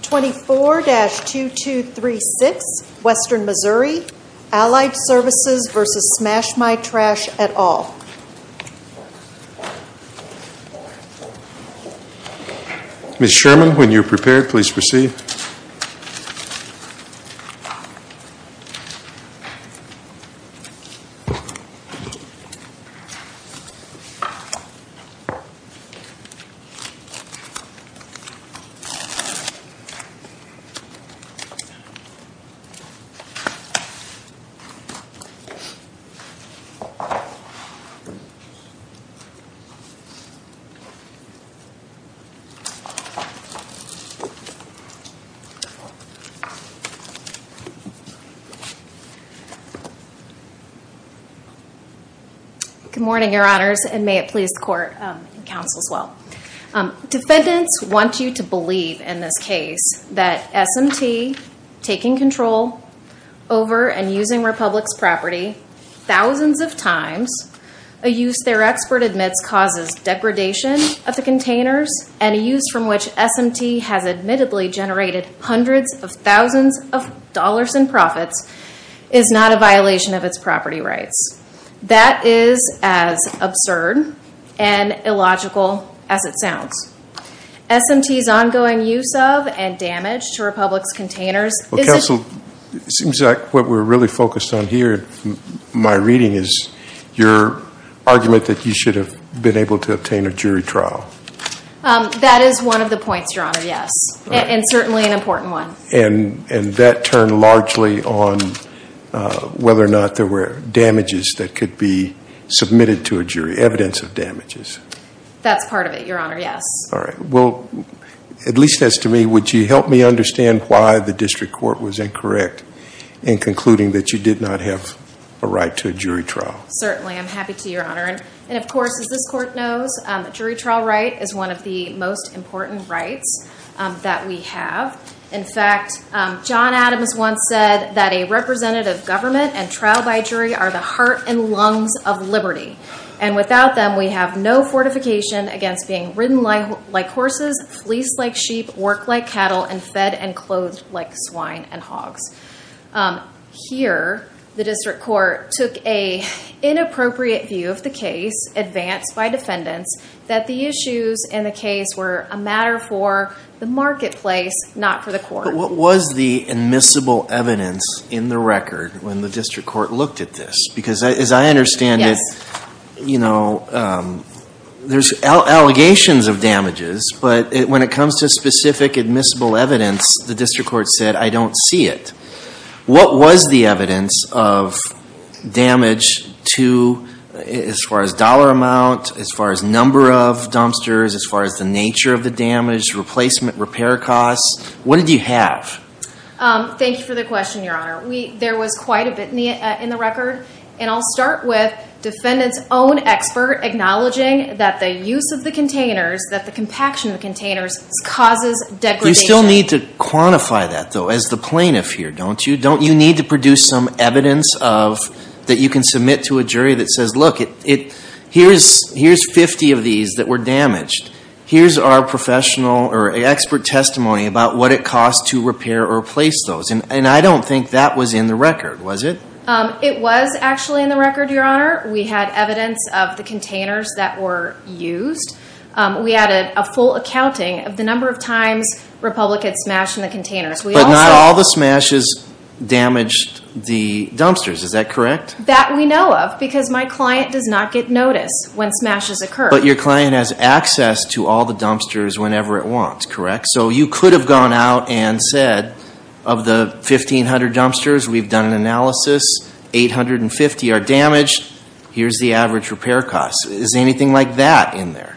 24-2236, Western Missouri, Allied Services v. Smash My Trash, et al. Ms. Sherman, when you're prepared, please proceed. Good morning, Your Honors, and may it please the Court and Counsel as well. Defendants want you to believe in this case that SMT taking control over and using Republic's property thousands of times, a use their expert admits causes degradation of the containers, and a use from which SMT has admittedly generated hundreds of thousands of dollars in profits, is not a violation of its property rights. That is as absurd and illogical as it sounds. SMT's ongoing use of and damage to Republic's containers is- Counsel, it seems like what we're really focused on here in my reading is your argument that you should have been able to obtain a jury trial. That is one of the points, Your Honor, yes, and certainly an important one. And that turned largely on whether or not there were damages that could be submitted to a jury, evidence of damages. That's part of it, Your Honor, yes. All right. Well, at least as to me, would you help me understand why the district court was incorrect in concluding that you did not have a right to a jury trial? Certainly, I'm happy to, Your Honor. And, of course, as this Court knows, a jury trial right is one of the most important rights that we have. In fact, John Adams once said that a representative government and trial by jury are the heart and lungs of liberty. And without them, we have no fortification against being ridden like horses, fleeced like sheep, worked like cattle, and fed and clothed like swine and hogs. Here, the district court took an inappropriate view of the case advanced by defendants that the issues in the case were a matter for the marketplace, not for the court. But what was the admissible evidence in the record when the district court looked at this? Because as I understand it, you know, there's allegations of damages, but when it comes to specific admissible evidence, the district court said, I don't see it. What was the evidence of damage to, as far as dollar amount, as far as number of dumpsters, as far as the nature of the damage, replacement, repair costs? What did you have? Thank you for the question, Your Honor. There was quite a bit in the record. And I'll start with defendants' own expert acknowledging that the use of the containers, that the compaction of the containers causes degradation. You still need to quantify that, though, as the plaintiff here, don't you? Don't you need to produce some evidence that you can submit to a jury that says, look, here's 50 of these that were damaged. Here's our professional or expert testimony about what it costs to repair or replace those. And I don't think that was in the record, was it? It was actually in the record, Your Honor. We had evidence of the containers that were used. We had a full accounting of the number of times Republicans smashed the containers. But not all the smashes damaged the dumpsters, is that correct? That we know of, because my client does not get notice when smashes occur. But your client has access to all the dumpsters whenever it wants, correct? So you could have gone out and said, of the 1,500 dumpsters we've done an analysis, 850 are damaged. Here's the average repair costs. Is anything like that in there?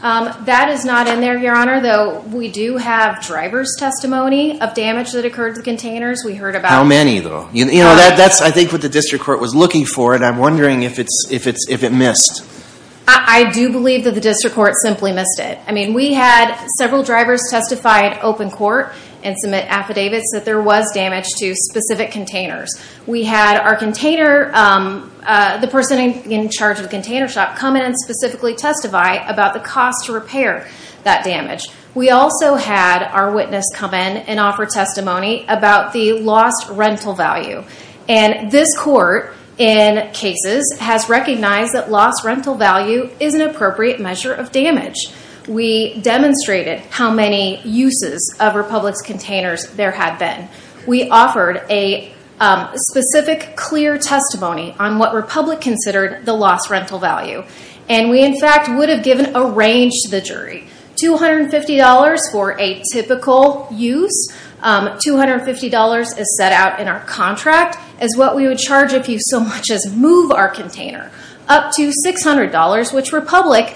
That is not in there, Your Honor. Though, we do have driver's testimony of damage that occurred to the containers. We heard about it. How many, though? You know, that's, I think, what the district court was looking for. And I'm wondering if it missed. I do believe that the district court simply missed it. I mean, we had several drivers testify at open court and submit affidavits that there was damage to specific containers. We had our container, the person in charge of the container shop, come in and specifically testify about the cost to repair that damage. We also had our witness come in and offer testimony about the lost rental value. And this court, in cases, has recognized that lost rental value is an appropriate measure of damage. We demonstrated how many uses of Republic's containers there had been. We offered a specific, clear testimony on what Republic considered the lost rental value. And we, in fact, would have given a range to the jury. $250 for a typical use. $250 is set out in our contract as what we would charge if you so much as move our container up to $600, which Republic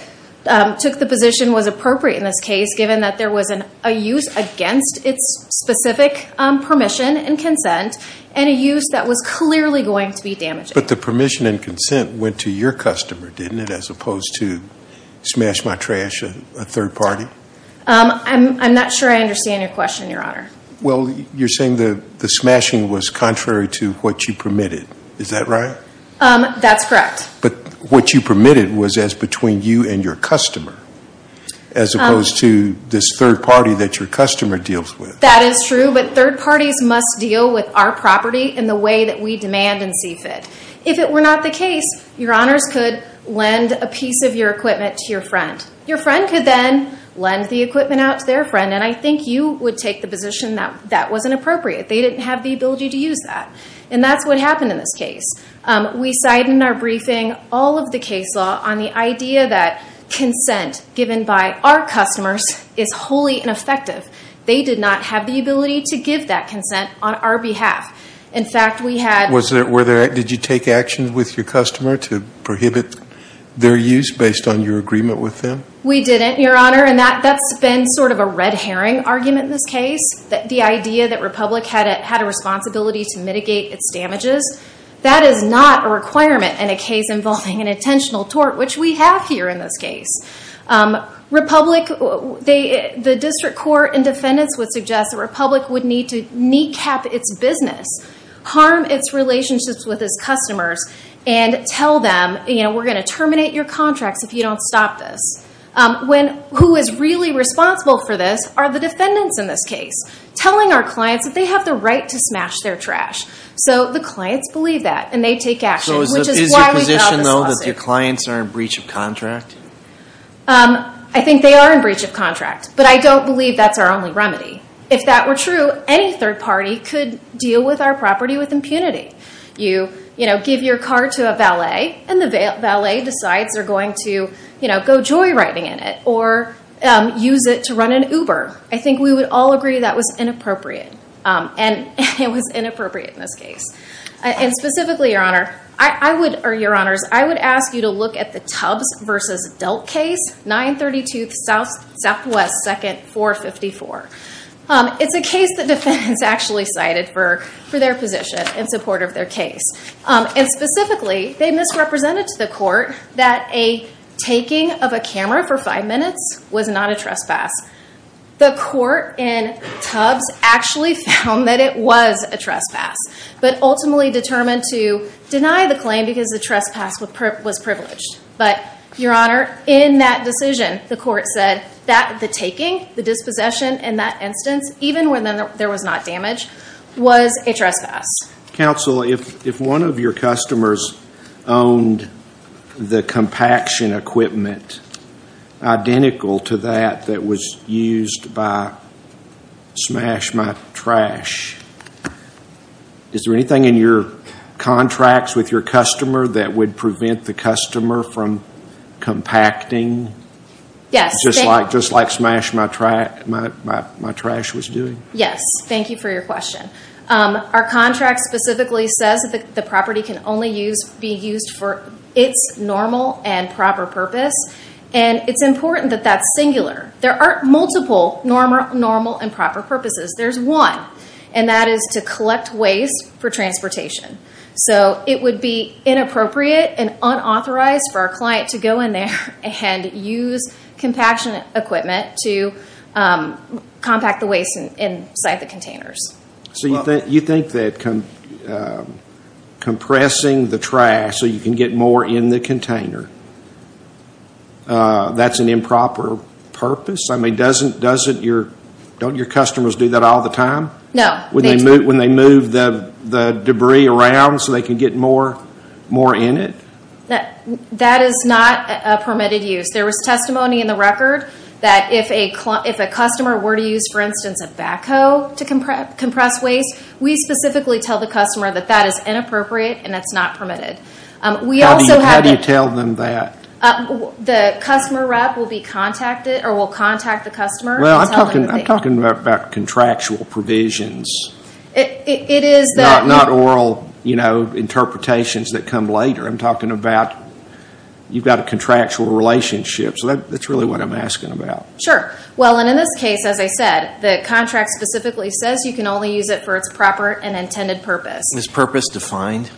took the position was appropriate in this case, given that there was a use against its specific permission and consent, and a use that was clearly going to be damaging. But the permission and consent went to your customer, didn't it, as opposed to smash my trash, a third party? I'm not sure I understand your question, Your Honor. Well, you're saying the smashing was contrary to what you permitted. Is that right? That's correct. But what you permitted was as between you and your customer, as opposed to this third party that your customer deals with. That is true, but third parties must deal with our property in the way that we demand and see fit. If it were not the case, Your Honors could lend a piece of your equipment to your friend. Your friend could then lend the equipment out to their friend, and I think you would take the position that that wasn't appropriate. They didn't have the ability to use that. And that's what happened in this case. We cite in our briefing all of the case law on the idea that consent given by our customers is wholly ineffective. They did not have the ability to give that consent on our behalf. In fact, we had- Did you take action with your customer to prohibit their use based on your agreement with them? We didn't, Your Honor, and that's been sort of a red herring argument in this case, the idea that Republic had a responsibility to mitigate its damages. That is not a requirement in a case involving an intentional tort, which we have here in this case. Republic, the district court and defendants would suggest that Republic would need to kneecap its business, harm its relationships with its customers, and tell them, you know, we're going to terminate your contracts if you don't stop this. Who is really responsible for this are the defendants in this case, telling our clients that they have the right to smash their trash. So the clients believe that, and they take action, which is why we filed this lawsuit. So is your position, though, that your clients are in breach of contract? I think they are in breach of contract, but I don't believe that's our only remedy. If that were true, any third party could deal with our property with impunity. You, you know, give your car to a valet, and the valet decides they're going to, you know, go joyriding in it, or use it to run an Uber. I think we would all agree that was inappropriate, and it was inappropriate in this case. And specifically, Your Honor, I would, or Your Honors, I would ask you to look at the Tubbs v. Delt case, 932 Southwest 2nd 454. It's a case that defendants actually cited for their position in support of their case. And specifically, they misrepresented to the court that a taking of a camera for five minutes was not a trespass. The court in Tubbs actually found that it was a trespass, but ultimately determined to deny the claim because the trespass was privileged. But, Your Honor, in that decision, the court said that the taking, the dispossession in that instance, even when there was not damage, was a trespass. Counsel, if one of your customers owned the compaction equipment identical to that that was used by Smash My Trash, is there anything in your contracts with your customer that would prevent the customer from compacting just like Smash My Trash was doing? Yes. Thank you for your question. Our contract specifically says that the property can only be used for its normal and proper purpose. And it's important that that's singular. There aren't multiple normal and proper purposes. There's one, and that is to collect waste for transportation. So it would be inappropriate and unauthorized for a client to go in there and use compaction equipment to compact the waste inside the containers. So you think that compressing the trash so you can get more in the container, that's an improper purpose? I mean, don't your customers do that all the time? No. When they move the debris around so they can get more in it? That is not a permitted use. There was testimony in the record that if a customer were to use, for instance, a backhoe to compress waste, we specifically tell the customer that that is inappropriate and that's not permitted. How do you tell them that? The customer rep will contact the customer. I'm talking about contractual provisions, not oral interpretations that come later. I'm talking about you've got a contractual relationship, so that's really what I'm asking about. Sure. Well, and in this case, as I said, the contract specifically says you can only use it for its proper and intended purpose. Is purpose defined?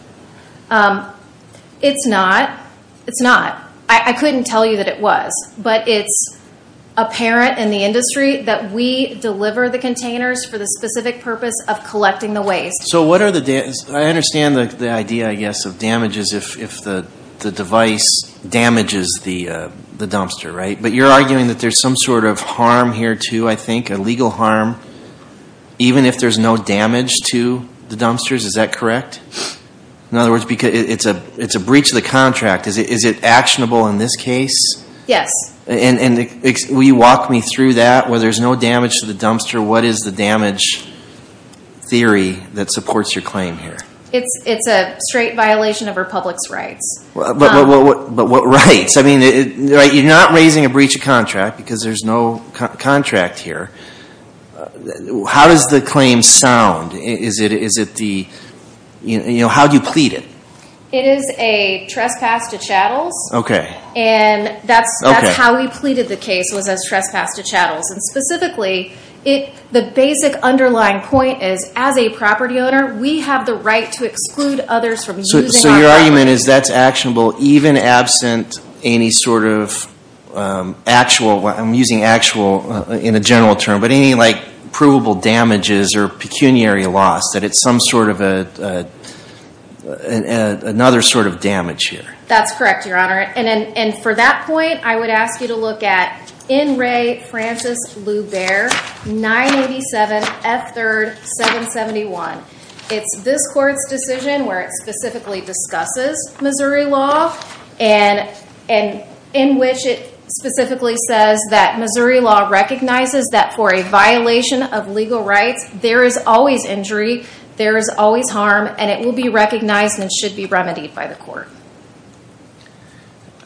It's not. It's not. I couldn't tell you that it was. But it's apparent in the industry that we deliver the containers for the specific purpose of collecting the waste. So what are the damages? I understand the idea, I guess, of damages if the device damages the dumpster, right? But you're arguing that there's some sort of harm here too, I think, a legal harm, even if there's no damage to the dumpsters. Is that correct? In other words, it's a breach of the contract. Is it actionable in this case? Yes. Will you walk me through that? Where there's no damage to the dumpster, what is the damage theory that supports your claim here? It's a straight violation of Republic's rights. But what rights? I mean, you're not raising a breach of contract because there's no contract here. How does the claim sound? How do you plead it? It is a trespass to chattels. And that's how we pleaded the case, was as trespass to chattels. And specifically, the basic underlying point is as a property owner, we have the right to exclude others from using our property. So your argument is that's actionable even absent any sort of actual, I'm using actual in a general term, but any provable damages or pecuniary loss, that it's some sort of another sort of damage here. That's correct, Your Honor. And for that point, I would ask you to look at N. Ray Francis Lou Bair, 987 F. 3rd, 771. It's this court's decision where it specifically discusses Missouri law, and in which it specifically says that Missouri law recognizes that for a violation of legal rights, there is always injury, there is always harm, and it will be recognized and should be remedied by the court.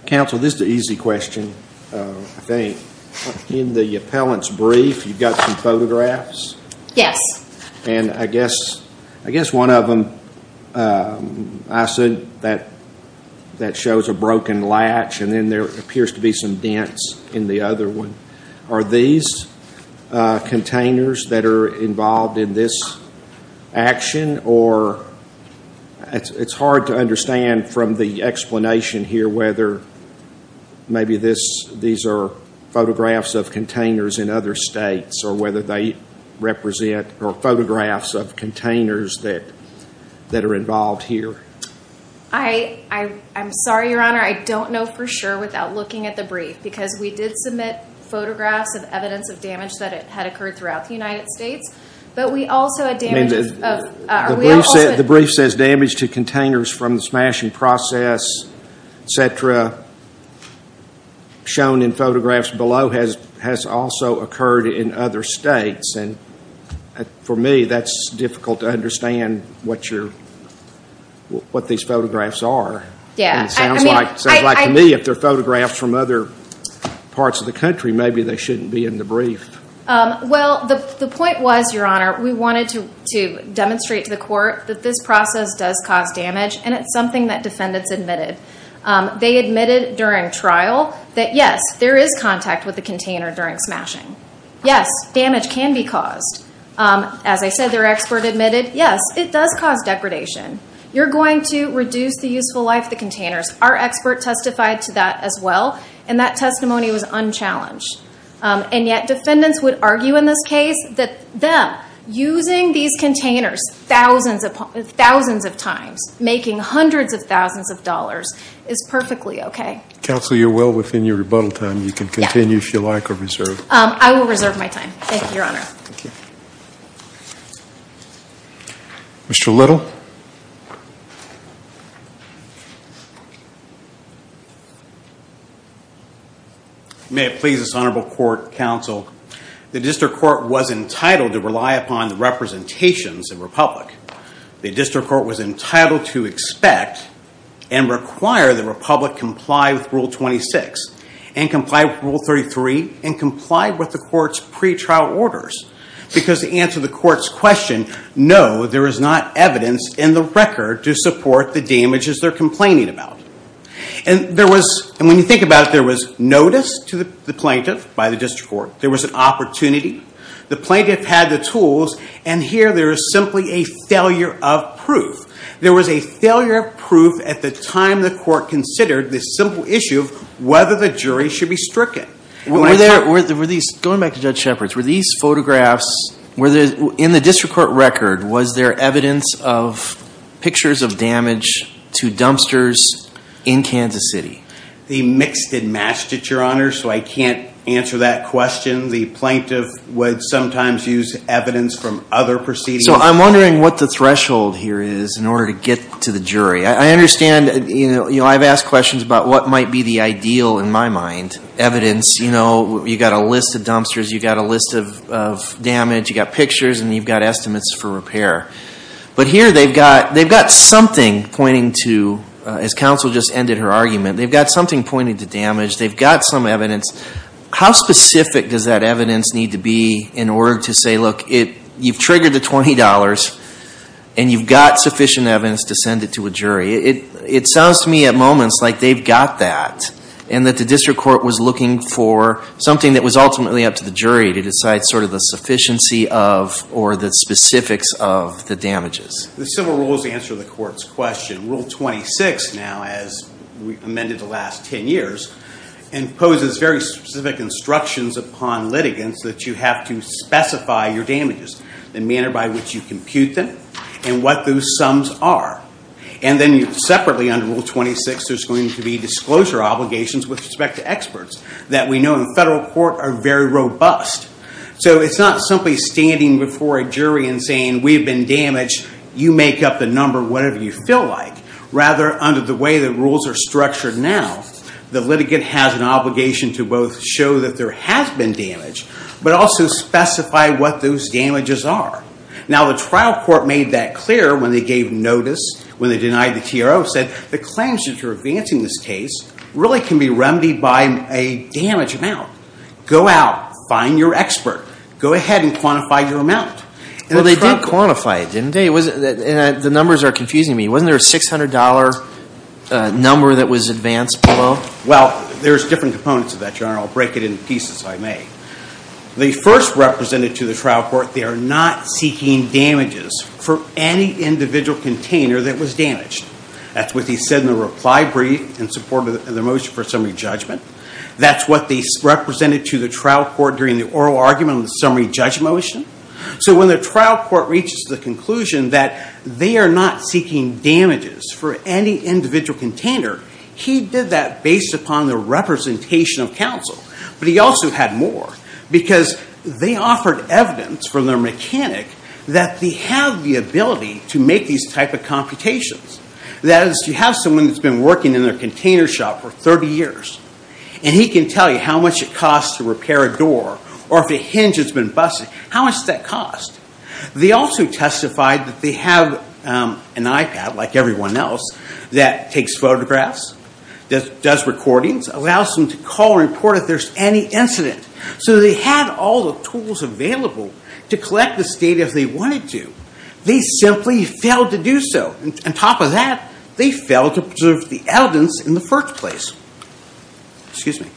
Counsel, this is an easy question, I think. In the appellant's brief, you've got some photographs? Yes. And I guess one of them, I assume, that shows a broken latch, and then there appears to be some dents in the other one. Are these containers that are involved in this action? Or it's hard to understand from the explanation here whether maybe these are photographs of containers in other states, or whether they represent photographs of containers that are involved here. I'm sorry, Your Honor. I don't know for sure without looking at the brief, because we did submit photographs of evidence of damage that had occurred throughout the United States, but we also had damage of – The brief says damage to containers from the smashing process, et cetera. What's shown in photographs below has also occurred in other states, and for me, that's difficult to understand what these photographs are. It sounds like to me, if they're photographs from other parts of the country, maybe they shouldn't be in the brief. Well, the point was, Your Honor, we wanted to demonstrate to the court that this process does cause damage, and it's something that defendants admitted. They admitted during trial that, yes, there is contact with the container during smashing. Yes, damage can be caused. As I said, their expert admitted, yes, it does cause degradation. You're going to reduce the useful life of the containers. Our expert testified to that as well, and that testimony was unchallenged. And yet defendants would argue in this case that them using these containers thousands of times, making hundreds of thousands of dollars, is perfectly okay. Counsel, you're well within your rebuttal time. You can continue if you like or reserve. I will reserve my time. Thank you, Your Honor. Thank you. Mr. Little. May it please this honorable court, counsel, the district court was entitled to rely upon the representations in Republic. The district court was entitled to expect and require the Republic comply with Rule 26 and comply with Rule 33 and comply with the court's pretrial orders because to answer the court's question, no, there is not evidence in the record to support the damages they're complaining about. And when you think about it, there was notice to the plaintiff by the district court. There was an opportunity. The plaintiff had the tools, and here there is simply a failure of proof. There was a failure of proof at the time the court considered this simple issue of whether the jury should be stricken. Going back to Judge Shepard's, were these photographs, in the district court record, was there evidence of pictures of damage to dumpsters in Kansas City? They mixed and matched it, Your Honor, so I can't answer that question. The plaintiff would sometimes use evidence from other proceedings. So I'm wondering what the threshold here is in order to get to the jury. I understand, you know, I've asked questions about what might be the ideal, in my mind, evidence. You know, you've got a list of dumpsters. You've got a list of damage. You've got pictures, and you've got estimates for repair. But here they've got something pointing to, as counsel just ended her argument, they've got something pointing to damage. They've got some evidence. How specific does that evidence need to be in order to say, look, you've triggered the $20, and you've got sufficient evidence to send it to a jury? It sounds to me at moments like they've got that, and that the district court was looking for something that was ultimately up to the jury to decide sort of the sufficiency of or the specifics of the damages. The civil rules answer the court's question. Rule 26 now, as amended the last 10 years, imposes very specific instructions upon litigants that you have to specify your damages, the manner by which you compute them, and what those sums are. And then separately under Rule 26, there's going to be disclosure obligations with respect to experts that we know in federal court are very robust. So it's not simply standing before a jury and saying, we've been damaged. You make up the number, whatever you feel like. Rather, under the way the rules are structured now, the litigant has an obligation to both show that there has been damage, but also specify what those damages are. Now, the trial court made that clear when they gave notice, when they denied the TRO, said the claims that you're advancing this case really can be remedied by a damage amount. Go out. Find your expert. Go ahead and quantify your amount. Well, they did quantify it, didn't they? And the numbers are confusing me. Wasn't there a $600 number that was advanced below? Well, there's different components of that, Your Honor. I'll break it into pieces if I may. The first represented to the trial court, they are not seeking damages for any individual container that was damaged. That's what they said in the reply brief in support of the motion for summary judgment. That's what they represented to the trial court during the oral argument on the summary judge motion. So when the trial court reaches the conclusion that they are not seeking damages for any individual container, he did that based upon the representation of counsel. But he also had more because they offered evidence from their mechanic that they have the ability to make these type of computations. That is, you have someone that's been working in their container shop for 30 years, and he can tell you how much it costs to repair a door, or if a hinge has been busted, how much does that cost? They also testified that they have an iPad, like everyone else, that takes photographs, does recordings, allows them to call and report if there's any incident. So they had all the tools available to collect this data if they wanted to. They simply failed to do so. On top of that, they failed to preserve the evidence in the first place. Excuse me.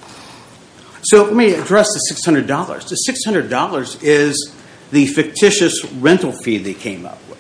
So let me address the $600. The $600 is the fictitious rental fee they came up with.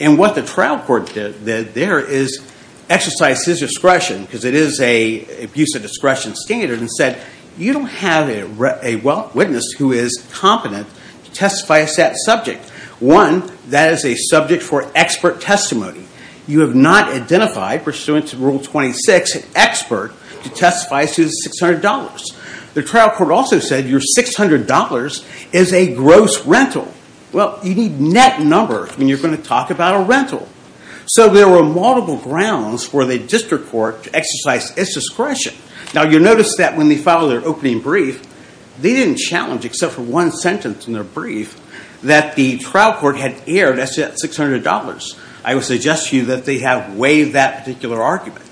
And what the trial court did there is exercise his discretion because it is an abuse of discretion standard and said you don't have a witness who is competent to testify as that subject. One, that is a subject for expert testimony. You have not identified pursuant to Rule 26 an expert to testify as to the $600. The trial court also said your $600 is a gross rental. Well, you need net numbers when you're going to talk about a rental. So there were multiple grounds for the district court to exercise its discretion. Now, you'll notice that when they filed their opening brief, they didn't challenge except for one sentence in their brief that the trial court had aired as to that $600. I would suggest to you that they have waived that particular argument.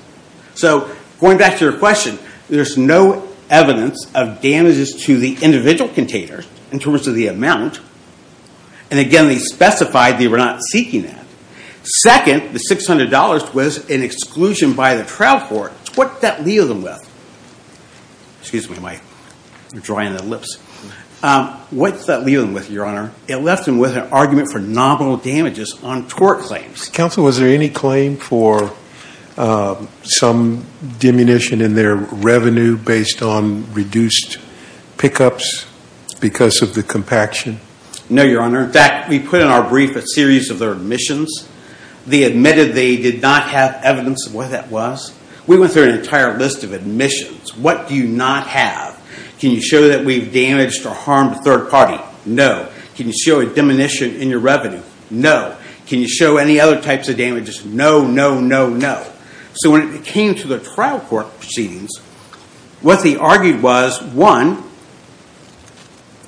So going back to your question, there's no evidence of damages to the individual containers in terms of the amount. And again, they specified they were not seeking that. Second, the $600 was an exclusion by the trial court. What did that leave them with? Excuse me, Mike. You're drying the lips. What did that leave them with, Your Honor? It left them with an argument for nominal damages on tort claims. Counsel, was there any claim for some diminution in their revenue based on reduced pickups because of the compaction? No, Your Honor. In fact, we put in our brief a series of their admissions. They admitted they did not have evidence of what that was. We went through an entire list of admissions. What do you not have? Can you show that we've damaged or harmed a third party? No. Can you show a diminution in your revenue? No. Can you show any other types of damages? No, no, no, no. So when it came to the trial court proceedings, what they argued was, one,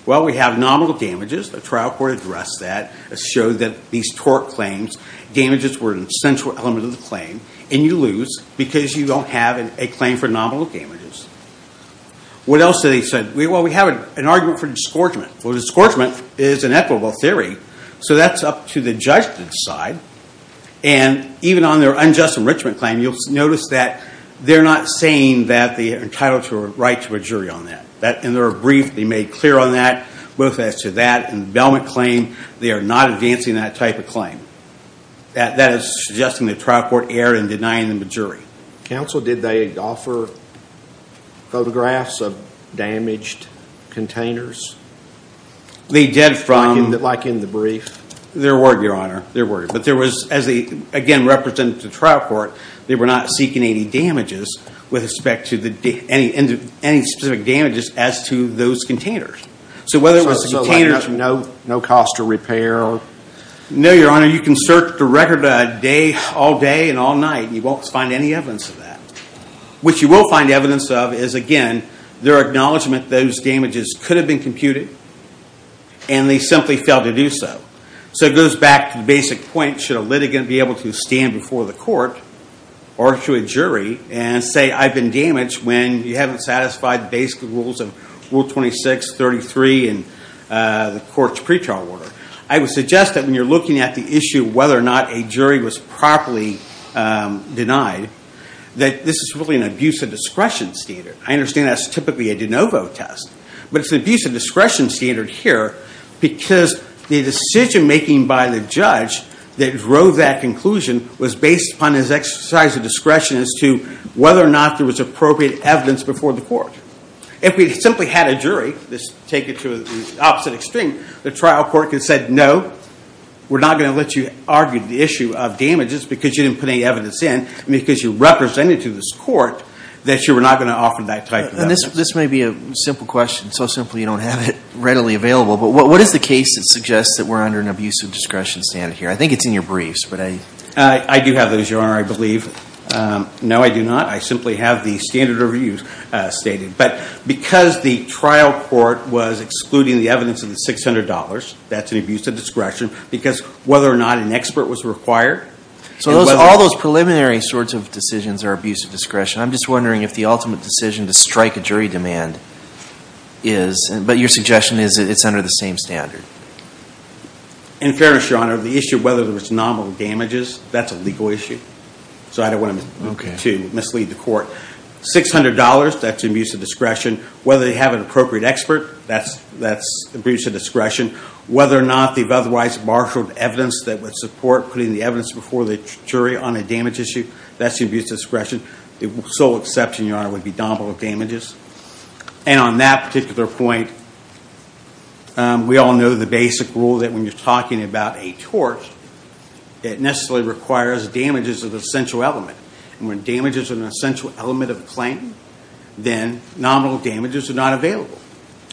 well, we have nominal damages. The trial court addressed that. It showed that these tort claims, damages were an essential element of the claim. And you lose because you don't have a claim for nominal damages. What else did they say? Well, we have an argument for disgorgement. Well, disgorgement is an equitable theory. So that's up to the judgment side. And even on their unjust enrichment claim, you'll notice that they're not saying that they're entitled to a right to a jury on that. In their brief, they made clear on that, both as to that and the Belmont claim. They are not advancing that type of claim. That is suggesting the trial court erred in denying them a jury. Counsel, did they offer photographs of damaged containers? They did from- Like in the brief? There were, Your Honor. There were. But there was, as they, again, represented the trial court, they were not seeking any damages with respect to any specific damages as to those containers. So whether it was the containers- So no cost to repair? No, Your Honor. You can search the record all day and all night, and you won't find any evidence of that. What you will find evidence of is, again, their acknowledgment that those damages could have been computed, and they simply failed to do so. So it goes back to the basic point. Should a litigant be able to stand before the court or to a jury and say, I've been damaged when you haven't satisfied the basic rules of Rule 26, 33, and the court's pretrial order? I would suggest that when you're looking at the issue of whether or not a jury was properly denied, that this is really an abuse of discretion standard. I understand that's typically a de novo test. But it's an abuse of discretion standard here because the decision-making by the judge that drove that conclusion was based upon his exercise of discretion as to whether or not there was appropriate evidence before the court. If we simply had a jury, let's take it to the opposite extreme, the trial court could have said, No, we're not going to let you argue the issue of damages because you didn't put any evidence in, because you represented to this court that you were not going to offer that type of evidence. This may be a simple question. So simple you don't have it readily available. But what is the case that suggests that we're under an abuse of discretion standard here? I think it's in your briefs, but I- I do have those, Your Honor, I believe. No, I do not. I simply have the standard reviews stated. But because the trial court was excluding the evidence of the $600, that's an abuse of discretion. Because whether or not an expert was required- So all those preliminary sorts of decisions are abuse of discretion. I'm just wondering if the ultimate decision to strike a jury demand is- But your suggestion is that it's under the same standard. In fairness, Your Honor, the issue of whether there was nominal damages, that's a legal issue. So I don't want to mislead the court. $600, that's abuse of discretion. Whether they have an appropriate expert, that's abuse of discretion. Whether or not they've otherwise marshaled evidence that would support putting the evidence before the jury on a damage issue, that's abuse of discretion. The sole exception, Your Honor, would be nominal damages. And on that particular point, we all know the basic rule that when you're talking about a tort, it necessarily requires damages of an essential element. And when damages are an essential element of a claim, then nominal damages are not available.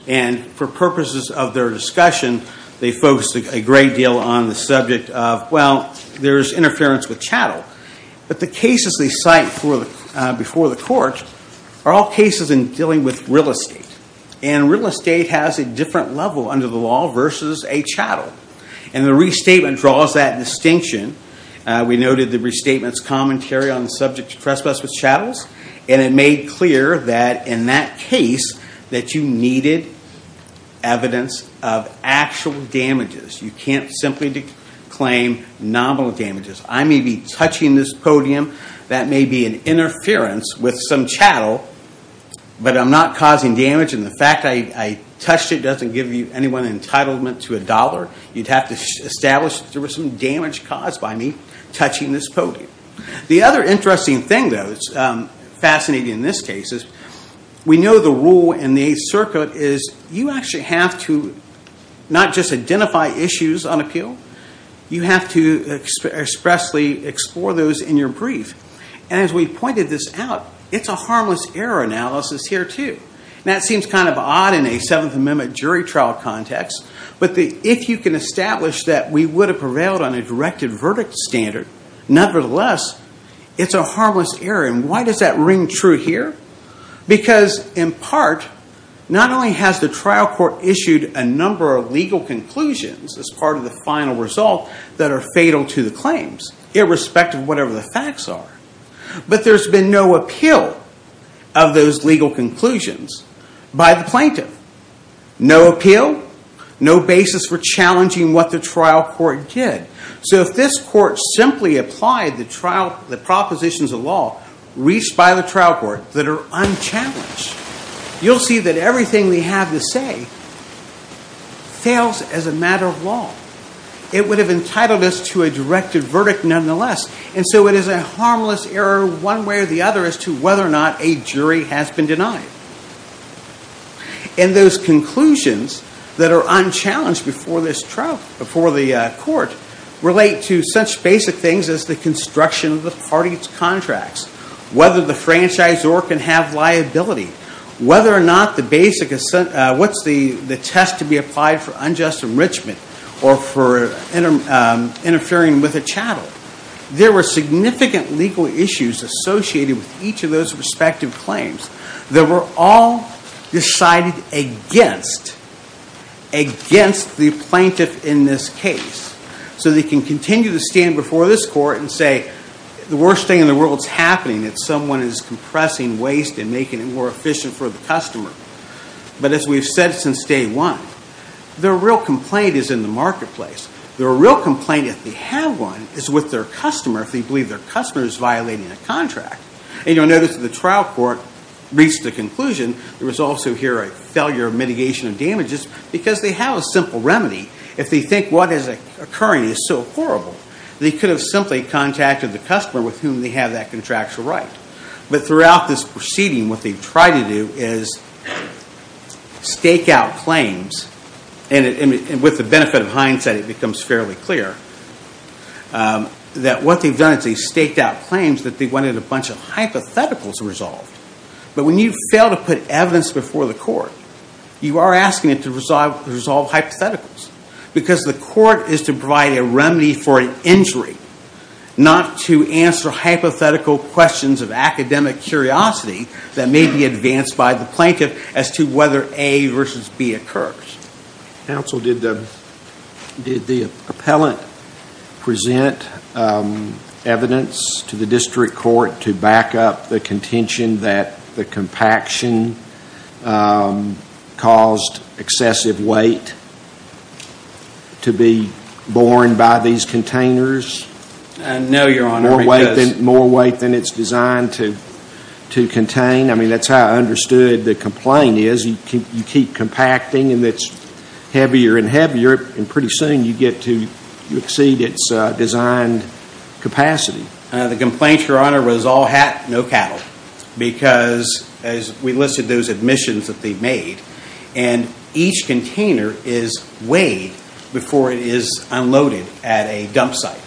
And for purposes of their discussion, they focused a great deal on the subject of, well, there's interference with chattel. But the cases they cite before the court are all cases in dealing with real estate. And real estate has a different level under the law versus a chattel. And the restatement draws that distinction. We noted the restatement's commentary on the subject of trespass with chattels. And it made clear that in that case that you needed evidence of actual damages. You can't simply claim nominal damages. I may be touching this podium. That may be an interference with some chattel, but I'm not causing damage. And the fact I touched it doesn't give you any entitlement to a dollar. You'd have to establish there was some damage caused by me touching this podium. The other interesting thing, though, that's fascinating in this case, is we know the rule in the Eighth Circuit is you actually have to not just identify issues on appeal. You have to expressly explore those in your brief. And as we pointed this out, it's a harmless error analysis here, too. Now, it seems kind of odd in a Seventh Amendment jury trial context. But if you can establish that we would have prevailed on a directed verdict standard, nevertheless, it's a harmless error. And why does that ring true here? Because, in part, not only has the trial court issued a number of legal conclusions as part of the final result that are fatal to the claims, irrespective of whatever the facts are, but there's been no appeal of those legal conclusions by the plaintiff. No appeal, no basis for challenging what the trial court did. So if this court simply applied the propositions of law reached by the trial court that are unchallenged, you'll see that everything they have to say fails as a matter of law. It would have entitled us to a directed verdict, nonetheless. And so it is a harmless error one way or the other as to whether or not a jury has been denied. And those conclusions that are unchallenged before the court relate to such basic things as the construction of the party's contracts, whether the franchisor can have liability, whether or not the test to be applied for unjust enrichment or for interfering with a chattel. There were significant legal issues associated with each of those respective claims that were all decided against the plaintiff in this case. So they can continue to stand before this court and say, the worst thing in the world is happening is that someone is compressing waste and making it more efficient for the customer. But as we've said since day one, their real complaint is in the marketplace. Their real complaint, if they have one, is with their customer, if they believe their customer is violating a contract. And you'll notice that the trial court reached the conclusion, there was also here a failure of mitigation of damages because they have a simple remedy. If they think what is occurring is so horrible, they could have simply contacted the customer with whom they have that contractual right. But throughout this proceeding, what they've tried to do is stake out claims. And with the benefit of hindsight, it becomes fairly clear that what they've done is they've staked out claims that they wanted a bunch of hypotheticals resolved. But when you fail to put evidence before the court, you are asking it to resolve hypotheticals. Because the court is to provide a remedy for an injury, not to answer hypothetical questions of academic curiosity that may be advanced by the plaintiff as to whether A versus B occurs. Counsel, did the appellant present evidence to the district court to back up the contention that the compaction caused excessive weight to be borne by these containers? No, Your Honor. More weight than it's designed to contain? I mean, that's how I understood the complaint is. You keep compacting and it's heavier and heavier, and pretty soon you get to exceed its designed capacity. The complaint, Your Honor, was all hat, no cattle. Because as we listed those admissions that they made, and each container is weighed before it is unloaded at a dump site.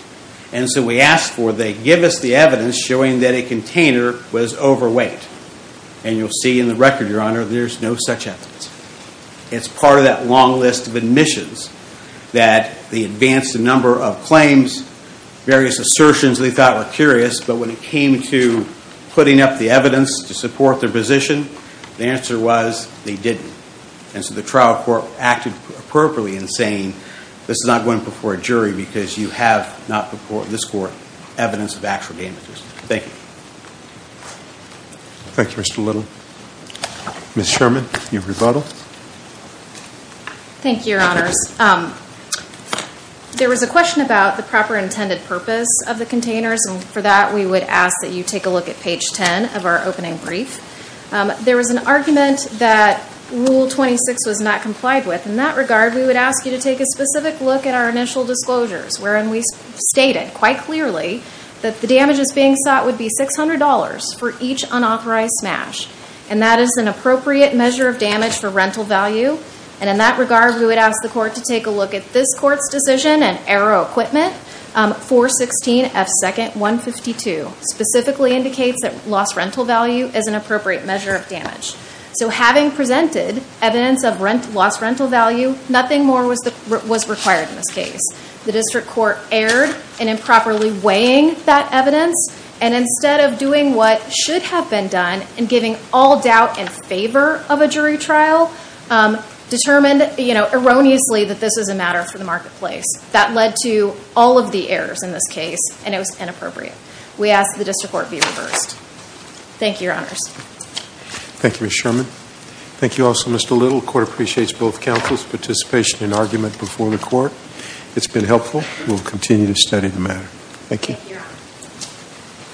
And so we asked for they give us the evidence showing that a container was overweight. And you'll see in the record, Your Honor, there's no such evidence. It's part of that long list of admissions. That they advanced a number of claims, various assertions they thought were curious, but when it came to putting up the evidence to support their position, the answer was they didn't. And so the trial court acted appropriately in saying, this is not going before a jury because you have not before this court evidence of actual damages. Thank you. Thank you, Mr. Little. Ms. Sherman, your rebuttal. Thank you, Your Honors. There was a question about the proper intended purpose of the containers, and for that we would ask that you take a look at page 10 of our opening brief. There was an argument that Rule 26 was not complied with. In that regard, we would ask you to take a specific look at our initial disclosures, wherein we stated quite clearly that the damages being sought would be $600 for each unauthorized smash. And that is an appropriate measure of damage for rental value. And in that regard, we would ask the court to take a look at this court's decision and arrow equipment, 416F2-152, specifically indicates that lost rental value is an appropriate measure of damage. So having presented evidence of lost rental value, nothing more was required in this case. The district court erred in improperly weighing that evidence, and instead of doing what should have been done and giving all doubt in favor of a jury trial, determined erroneously that this was a matter for the marketplace. That led to all of the errors in this case, and it was inappropriate. We ask that the district court be reversed. Thank you, Your Honors. Thank you, Ms. Sherman. Thank you also, Mr. Little. The court appreciates both counsel's participation and argument before the court. It's been helpful. We'll continue to study the matter. Thank you.